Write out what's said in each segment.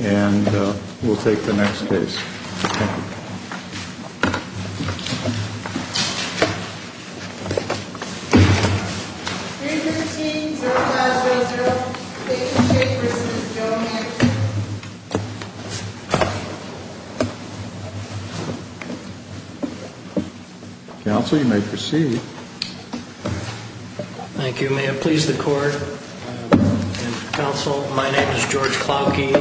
And we'll take the next case. Thank you. 315-0500 Steak'n Shake v. Joe Manchin Counsel, you may proceed. Thank you. May it please the Court and Counsel, my name is George Klauke,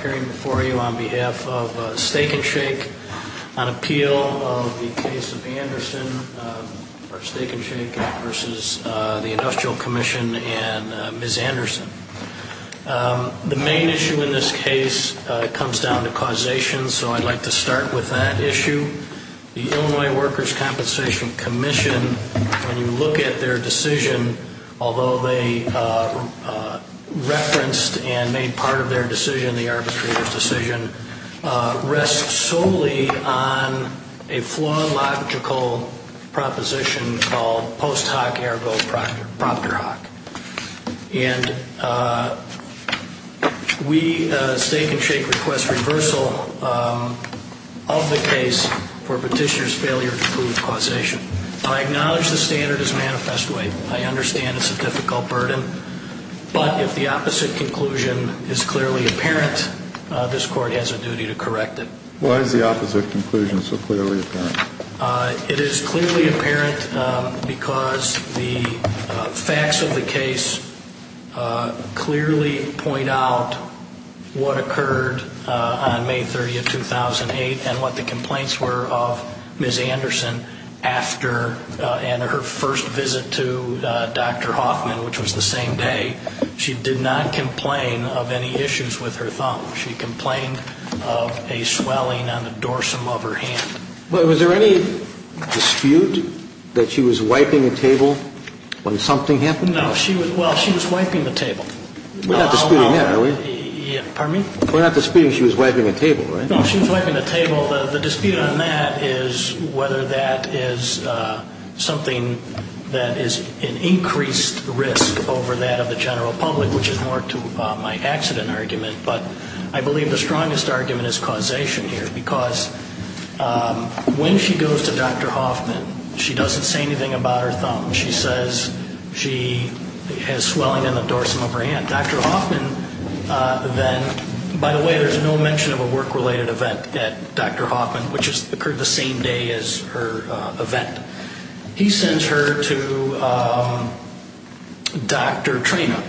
appearing before you on behalf of Steak'n Shake on appeal of the case of Anderson v. Industrial Commission and Ms. Anderson. The main issue in this case comes down to causation, so I'd like to start with that issue. The Illinois Workers' Compensation Commission, when you look at their decision, although they referenced and made part of their decision, the arbitrator's decision, rests solely on a flawed logical proposition called post hoc ergo proctor hoc. And we, Steak'n Shake, request reversal of the case for petitioner's failure to prove causation. I acknowledge the standard is manifest way. I understand it's a difficult burden, but if the opposite conclusion is clearly apparent, this Court has a duty to correct it. Why is the opposite conclusion so clearly apparent? It is clearly apparent because the facts of the case clearly point out what occurred on May 30, 2008, and what the complaints were of Ms. Anderson after her first visit to Dr. Hoffman, which was the same day. She did not complain of any issues with her thumb. She complained of a swelling on the dorsum of her hand. Was there any dispute that she was wiping the table when something happened? No. Well, she was wiping the table. We're not disputing that, are we? Pardon me? We're not disputing she was wiping the table, right? No, she was wiping the table. The dispute on that is whether that is something that is an increased risk over that of the general public, which is more to my accident argument. But I believe the strongest argument is causation here, because when she goes to Dr. Hoffman, she doesn't say anything about her thumb. She says she has swelling in the dorsum of her hand. Dr. Hoffman then, by the way, there's no mention of a work-related event at Dr. Hoffman, which occurred the same day as her event. He sends her to Dr. Trena.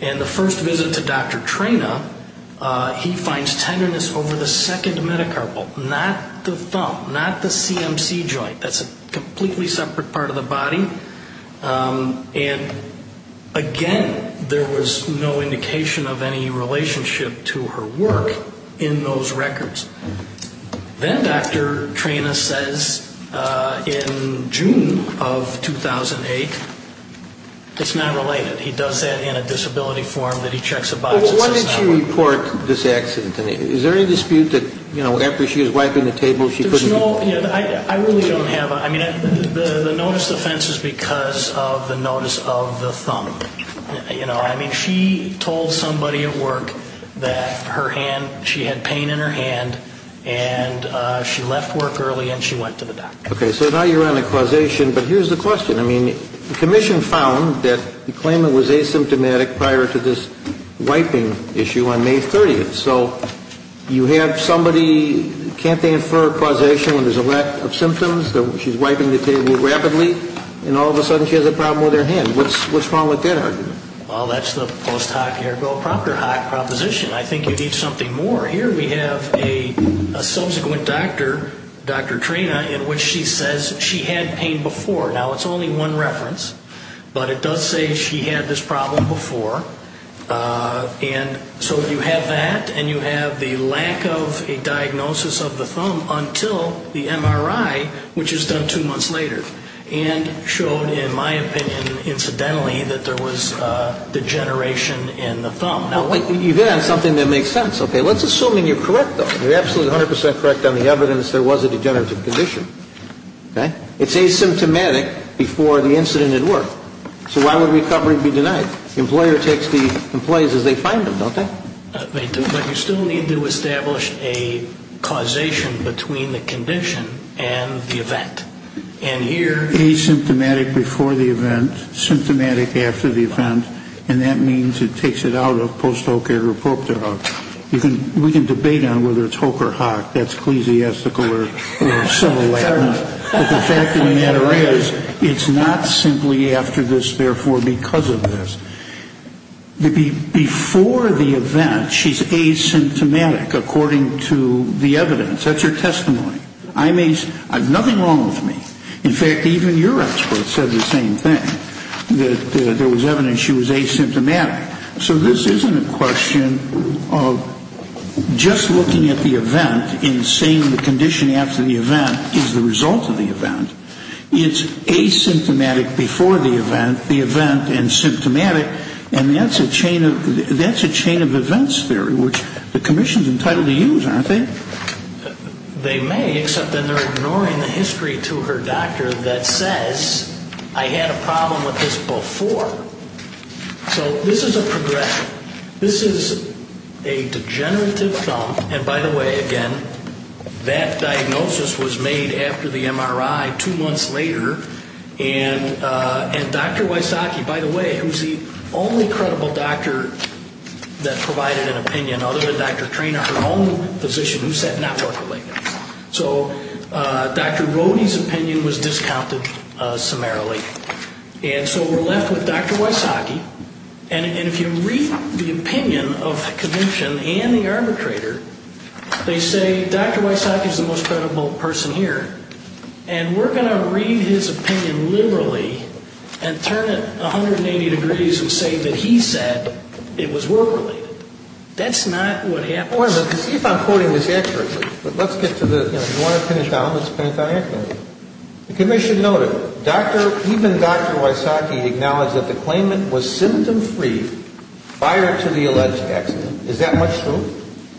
And the first visit to Dr. Trena, he finds tenderness over the second metacarpal, not the thumb, not the CMC joint. That's a completely separate part of the body. And again, there was no indication of any relationship to her work in those records. Then Dr. Trena says in June of 2008, it's not related. He does that in a disability form that he checks a box. Well, why did she report this accident to me? Is there any dispute that, you know, after she was wiping the table, she couldn't be? There's no, I really don't have a, I mean, the notice of offense is because of the notice of the thumb. You know, I mean, she told somebody at work that her hand, she had pain in her hand, and she left work early and she went to the doctor. Okay, so now you're on a causation, but here's the question. I mean, the commission found that the claimant was asymptomatic prior to this wiping issue on May 30th. So you have somebody, can't they infer causation when there's a lack of symptoms? She's wiping the table rapidly, and all of a sudden she has a problem with her hand. What's wrong with that argument? Well, that's the post hoc ergo proctor hoc proposition. I think you need something more. Here we have a subsequent doctor, Dr. Trena, in which she says she had pain before. Now, it's only one reference, but it does say she had this problem before. And so you have that, and you have the lack of a diagnosis of the thumb until the MRI, which is done two months later, and showed, in my opinion, incidentally, that there was degeneration in the thumb. Now, you've hit on something that makes sense. Okay, let's assume you're correct, though. You're absolutely 100 percent correct on the evidence there was a degenerative condition. Okay? It's asymptomatic before the incident at work. So why would recovery be denied? The employer takes the employees as they find them, don't they? They do. But you still need to establish a causation between the condition and the event. And here? Asymptomatic before the event, symptomatic after the event, and that means it takes it out of post hoc ergo proctor hoc. We can debate on whether it's hoc or hoc. That's ecclesiastical or similar. But the fact of the matter is, it's not simply after this, therefore because of this. Before the event, she's asymptomatic according to the evidence. That's your testimony. I mean, there's nothing wrong with me. In fact, even your expert said the same thing, that there was evidence she was asymptomatic. So this isn't a question of just looking at the event and seeing the condition after the event is the result of the event. It's asymptomatic before the event, the event, and symptomatic. And that's a chain of events theory, which the commission's entitled to use, aren't they? They may, except then they're ignoring the history to her doctor that says, I had a problem with this before. So this is a progression. This is a degenerative thumb. And by the way, again, that diagnosis was made after the MRI two months later. And Dr. Wysocki, by the way, who's the only credible doctor that provided an opinion, in other words, Dr. Treanor, her own physician who said not work-related. So Dr. Rohde's opinion was discounted summarily. And so we're left with Dr. Wysocki. And if you read the opinion of the commission and the arbitrator, they say Dr. Wysocki is the most credible person here. And we're going to read his opinion liberally and turn it 180 degrees and say that he said it was work-related. That's not what happens. Wait a minute. See if I'm quoting this accurately. But let's get to the, you know, if you want to finish down, let's finish on that. The commission noted, even Dr. Wysocki acknowledged that the claimant was symptom-free prior to the alleged accident. Is that much true?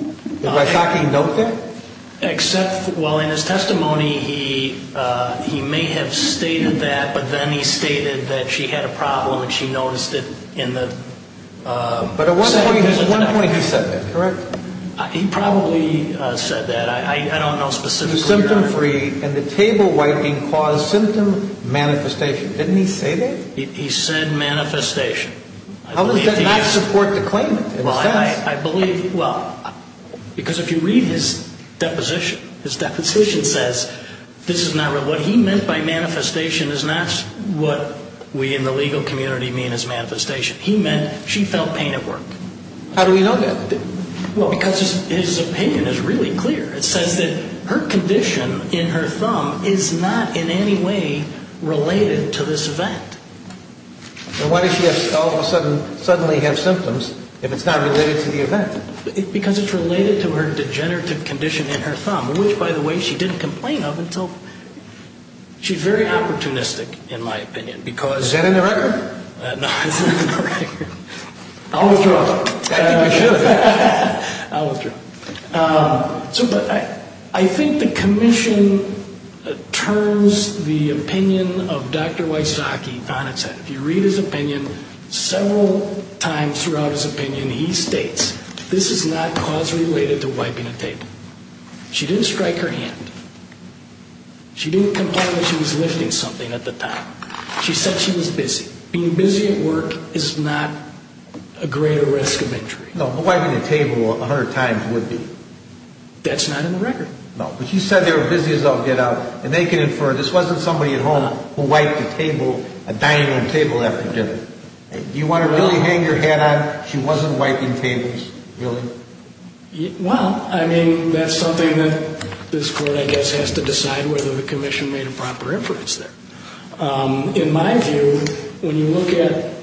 Did Wysocki note that? Except, well, in his testimony, he may have stated that, but then he stated that she had a problem and she noticed it in the. But at one point he said that, correct? He probably said that. I don't know specifically. Symptom-free and the table-wiping caused symptom manifestation. Didn't he say that? He said manifestation. How does that not support the claimant in a sense? I believe, well, because if you read his deposition, his deposition says this is not real. What he meant by manifestation is not what we in the legal community mean as manifestation. He meant she felt pain at work. How do we know that? Well, because his opinion is really clear. It says that her condition in her thumb is not in any way related to this event. Then why does she all of a sudden have symptoms if it's not related to the event? Because it's related to her degenerative condition in her thumb, which, by the way, she didn't complain of until – she's very opportunistic in my opinion because – Is that in the record? No, it's not in the record. I'll withdraw. I think you should. I'll withdraw. But I think the commission turns the opinion of Dr. Wysocki on its head. If you read his opinion, several times throughout his opinion he states this is not cause related to wiping a table. She didn't strike her hand. She didn't complain that she was lifting something at the time. She said she was busy. Being busy at work is not a greater risk of injury. No, wiping the table 100 times would be. That's not in the record. No, but she said they were busy as all get out, and they can infer this wasn't somebody at home who wiped the table, a dining room table after dinner. Do you want to really hang your hat on? She wasn't wiping tables, really? Well, I mean, that's something that this court I guess has to decide whether the commission made a proper inference there. In my view, when you look at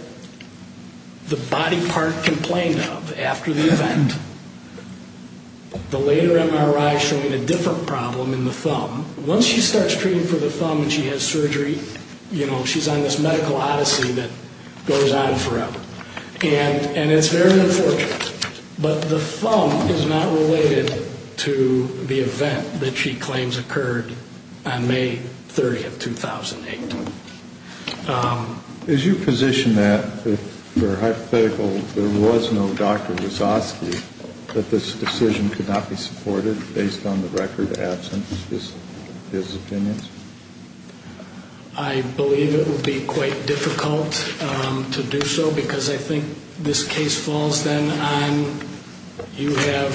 the body part complained of after the event, the later MRI showing a different problem in the thumb. Once she starts treating for the thumb and she has surgery, you know, she's on this medical odyssey that goes on forever. And it's very unfortunate. But the thumb is not related to the event that she claims occurred on May 30th, 2008. As you position that, if you're hypothetical, there was no Dr. Wazowski, that this decision could not be supported based on the record absent his opinions? I believe it would be quite difficult to do so because I think this case falls then on you have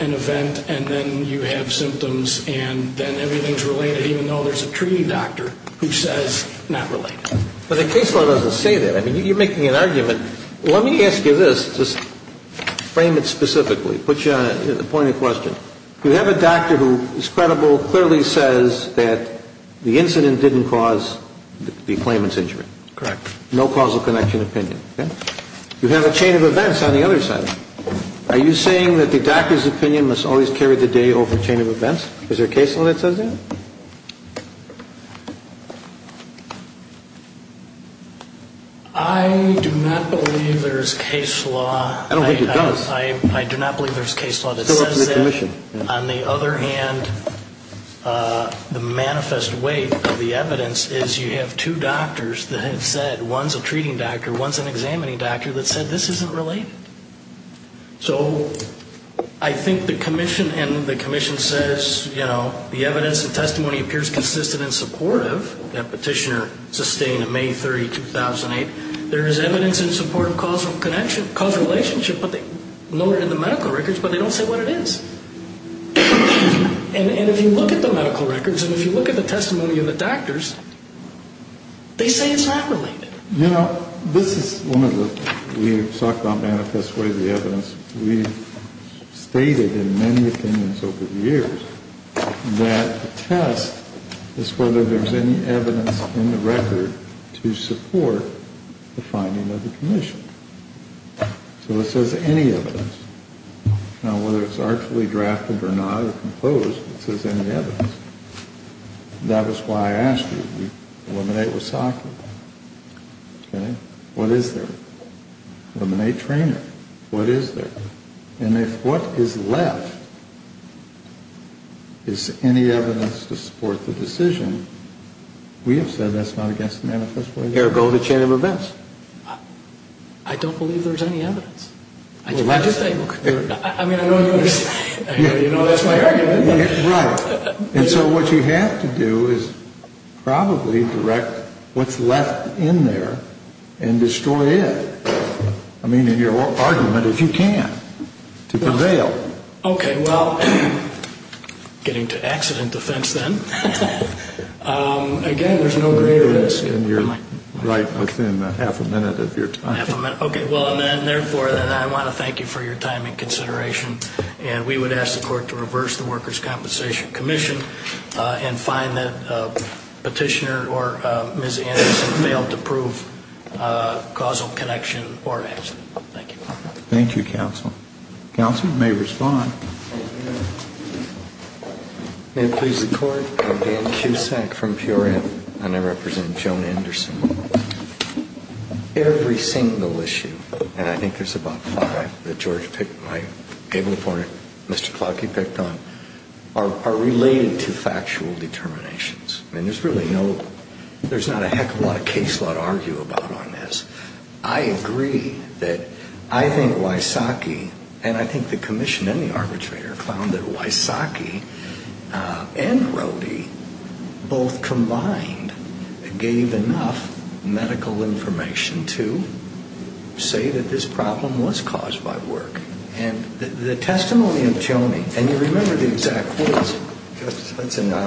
an event and then you have symptoms and then everything's related, even though there's a treating doctor who says not related. But the case law doesn't say that. I mean, you're making an argument. Let me ask you this, just frame it specifically, put you on the point of question. You have a doctor who is credible, clearly says that the incident didn't cause the claimant's injury. Correct. No causal connection opinion. You have a chain of events on the other side. Are you saying that the doctor's opinion must always carry the day over a chain of events? Is there a case law that says that? I do not believe there is case law. I don't think it does. I do not believe there's case law that says that. On the other hand, the manifest weight of the evidence is you have two doctors that have said, one's a treating doctor, one's an examining doctor, that said this isn't related. So I think the commission and the commission says, you know, the evidence and testimony appears consistent and supportive, that petitioner sustained in May 30, 2008. There is evidence in support of causal relationship noted in the medical records, but they don't say what it is. And if you look at the medical records and if you look at the testimony of the doctors, they say it's not related. You know, this is one of the, we've talked about manifest weight of the evidence. We've stated in many opinions over the years that the test is whether there's any evidence in the record to support the finding of the commission. So it says any evidence. Now, whether it's artfully drafted or not or composed, it says any evidence. That was why I asked you to eliminate Wasaki. Okay? What is there? Eliminate Treanor. What is there? And if what is left is any evidence to support the decision, we have said that's not against the manifest weight of the evidence. Ergo the chain of events. I don't believe there's any evidence. Well, let's say. I mean, I know you understand. You know, that's my argument. Right. And so what you have to do is probably direct what's left in there and destroy it. I mean, in your argument, if you can, to prevail. Okay. Well, getting to accident defense then. Again, there's no greater risk. And you're right within half a minute of your time. Half a minute. Okay. Well, and then, therefore, then I want to thank you for your time and consideration. And we would ask the court to reverse the Workers' Compensation Commission and find that Petitioner or Ms. Anderson failed to prove causal connection or accident. Thank you. Thank you, counsel. Counsel may respond. May it please the court. I'm Dan Cusack from Purell, and I represent Joan Anderson. Every single issue, and I think there's about five that George picked, my able opponent, Mr. Klotke picked on, are related to factual determinations. I mean, there's really no ‑‑ there's not a heck of a lot of case law to argue about on this. I agree that I think Wysocki, and I think the commission and the arbitrator found that Wysocki and Rohde both combined gave enough medical information to say that this problem was caused by work. And the testimony of Joanie, and you remember the exact words,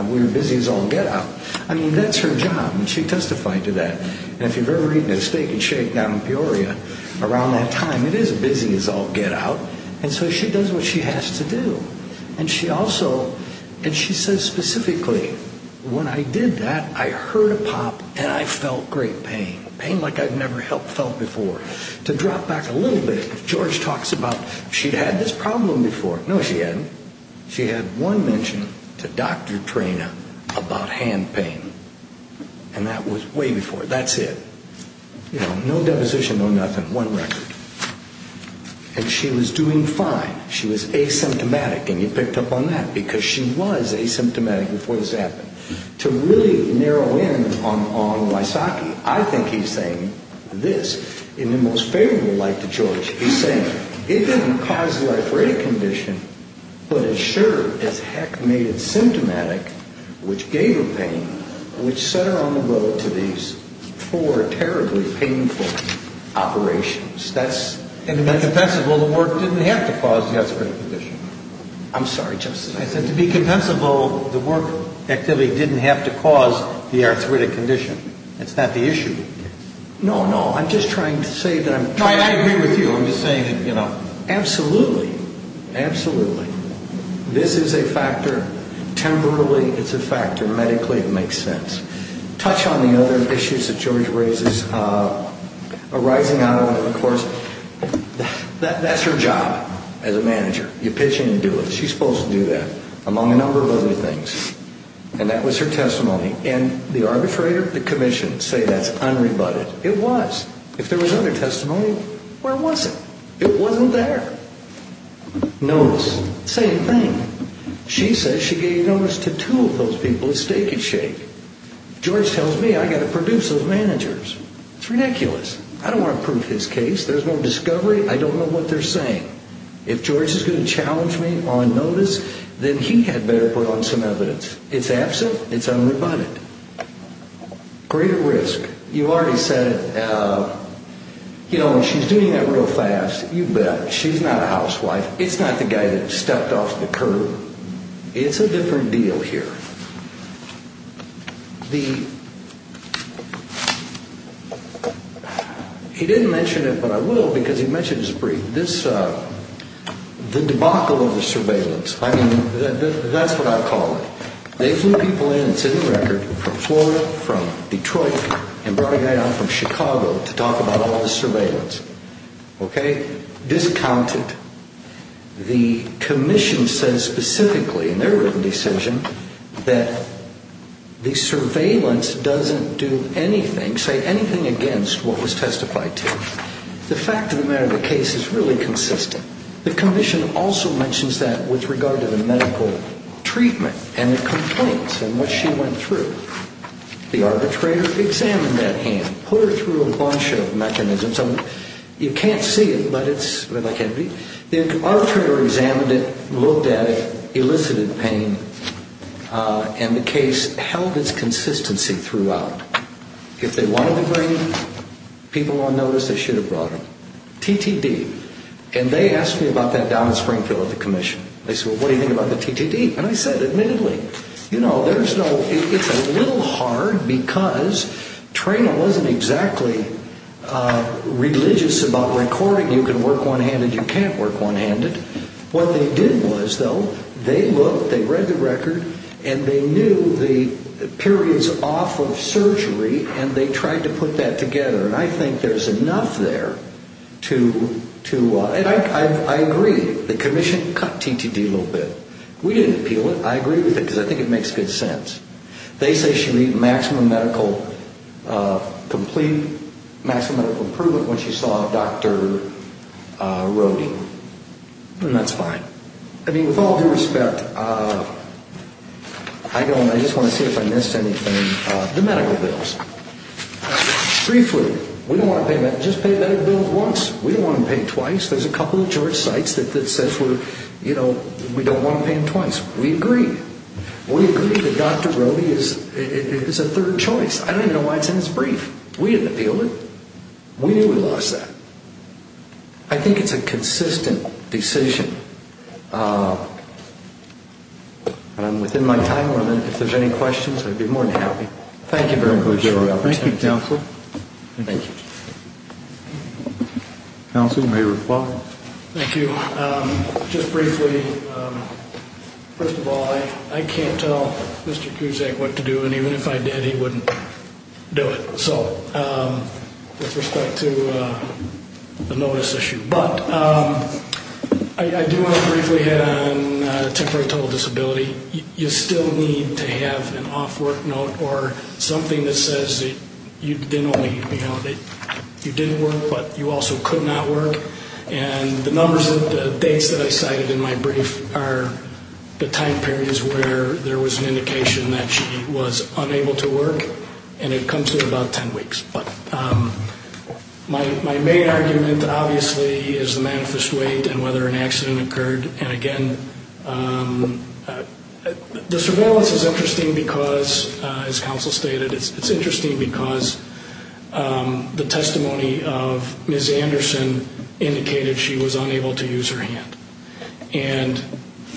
we're busy as all get‑out. I mean, that's her job, and she testified to that. And if you've ever eaten at Steak and Shake down in Peoria around that time, it is a busy as all get‑out, and so she does what she has to do. And she also ‑‑ and she says specifically, when I did that, I heard a pop and I felt great pain, pain like I've never felt before. To drop back a little bit, George talks about she'd had this problem before. No, she hadn't. She had one mention to Dr. Trena about hand pain. And that was way before, that's it. You know, no deposition, no nothing, one record. And she was doing fine. She was asymptomatic, and you picked up on that, because she was asymptomatic before this happened. To really narrow in on Wysocki, I think he's saying this in the most favorable light to George. He's saying it didn't cause the arthritic condition, but it sure as heck made it symptomatic, which gave her pain, which set her on the boat to these four terribly painful operations. That's ‑‑ And to be compensable, the work didn't have to cause the arthritic condition. I'm sorry, Justice. I said to be compensable, the work activity didn't have to cause the arthritic condition. It's not the issue. No, no. I'm just trying to say that I'm ‑‑ I agree with you. I'm just saying that, you know. Absolutely. Absolutely. This is a factor. Temporally, it's a factor. Medically, it makes sense. Touch on the other issues that George raises arising out of the course. That's her job as a manager. You pitch in and do it. She's supposed to do that, among a number of other things. And that was her testimony. And the arbitrator, the commission, say that's unrebutted. It was. If there was other testimony, where was it? It wasn't there. Notice. Same thing. She says she gave notice to two of those people at Steak and Shake. George tells me I've got to produce those managers. It's ridiculous. I don't want to prove his case. There's no discovery. I don't know what they're saying. If George is going to challenge me on notice, then he had better put on some evidence. It's absent. It's unrebutted. Greater risk. You've already said it. She's doing that real fast. You bet. She's not a housewife. It's not the guy that stepped off the curb. It's a different deal here. He didn't mention it, but I will because he mentioned it briefly. The debacle of the surveillance, that's what I call it. They flew people in, it's in the record, from Florida, from Detroit, and brought a guy down from Chicago to talk about all the surveillance. Okay? Discounted. The commission says specifically in their written decision that the surveillance doesn't do anything, say anything against what was testified to. The fact of the matter of the case is really consistent. The commission also mentions that with regard to the medical treatment and the complaints and what she went through. The arbitrator examined that hand, put her through a bunch of mechanisms. You can't see it, but it's, well, I can't read. The arbitrator examined it, looked at it, elicited pain, and the case held its consistency throughout. If they wanted to bring people on notice, they should have brought them. TTD. And they asked me about that down in Springfield at the commission. They said, well, what do you think about the TTD? And I said, admittedly, you know, there's no, it's a little hard because training wasn't exactly religious about recording. You can work one-handed, you can't work one-handed. What they did was, though, they looked, they read the record, and they knew the periods off of surgery, and they tried to put that together. And I think there's enough there to, and I agree. The commission cut TTD a little bit. We didn't appeal it. I agree with it because I think it makes good sense. They say she needed maximum medical, complete maximum medical improvement when she saw Dr. Rohde. And that's fine. I mean, with all due respect, I know, and I just want to see if I missed anything, the medical bills. Briefly, we don't want to pay, just pay medical bills once. We don't want to pay twice. There's a couple of church sites that says we're, you know, we don't want to pay them twice. We agree. We agree that Dr. Rohde is a third choice. I don't even know why it's in this brief. We didn't appeal it. We knew we lost that. I think it's a consistent decision. And I'm within my time limit. If there's any questions, I'd be more than happy. Thank you very much. Thank you, Counsel. Thank you. Counsel, you may reply. Thank you. Just briefly, first of all, I can't tell Mr. Kuzak what to do, and even if I did, he wouldn't do it. So with respect to the notice issue. But I do want to briefly hit on temporary total disability. You still need to have an off work note or something that says that you didn't work, but you also could not work. And the numbers of dates that I cited in my brief are the time periods where there was an indication that she was unable to work, and it comes to about 10 weeks. But my main argument, obviously, is the manifest weight and whether an accident occurred. And again, the surveillance is interesting because, as Counsel stated, it's interesting because the testimony of Ms. Anderson indicated she was unable to use her hand. And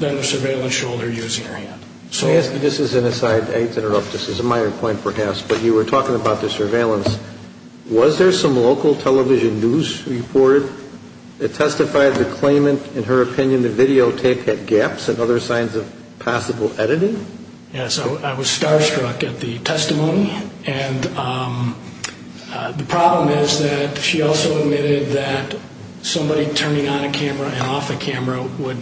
then the surveillance showed her using her hand. This is an aside. I interrupt. This is a minor point, perhaps. But you were talking about the surveillance. Was there some local television news report that testified the claimant, in her opinion, the videotape had gaps and other signs of possible editing? Yes. I was starstruck at the testimony. And the problem is that she also admitted that somebody turning on a camera and off a camera would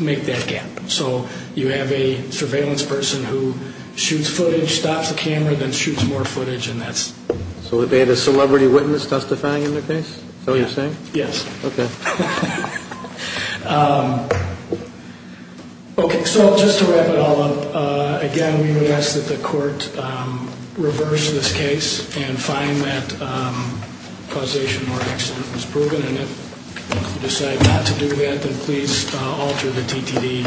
make that gap. So you have a surveillance person who shoots footage, stops the camera, then shoots more footage, and that's... So they had a celebrity witness testifying in the case? Is that what you're saying? Yes. Okay. Okay. So just to wrap it all up, again, we would ask that the court reverse this case and find that causation or accident was proven. And if you decide not to do that, then please alter the DTD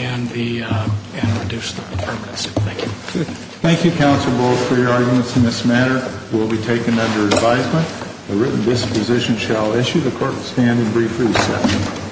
and reduce the terminus. Thank you. Thank you, Counsel Bull, for your arguments in this matter. It will be taken under advisement. The written disposition shall issue. The court will stand in brief recess.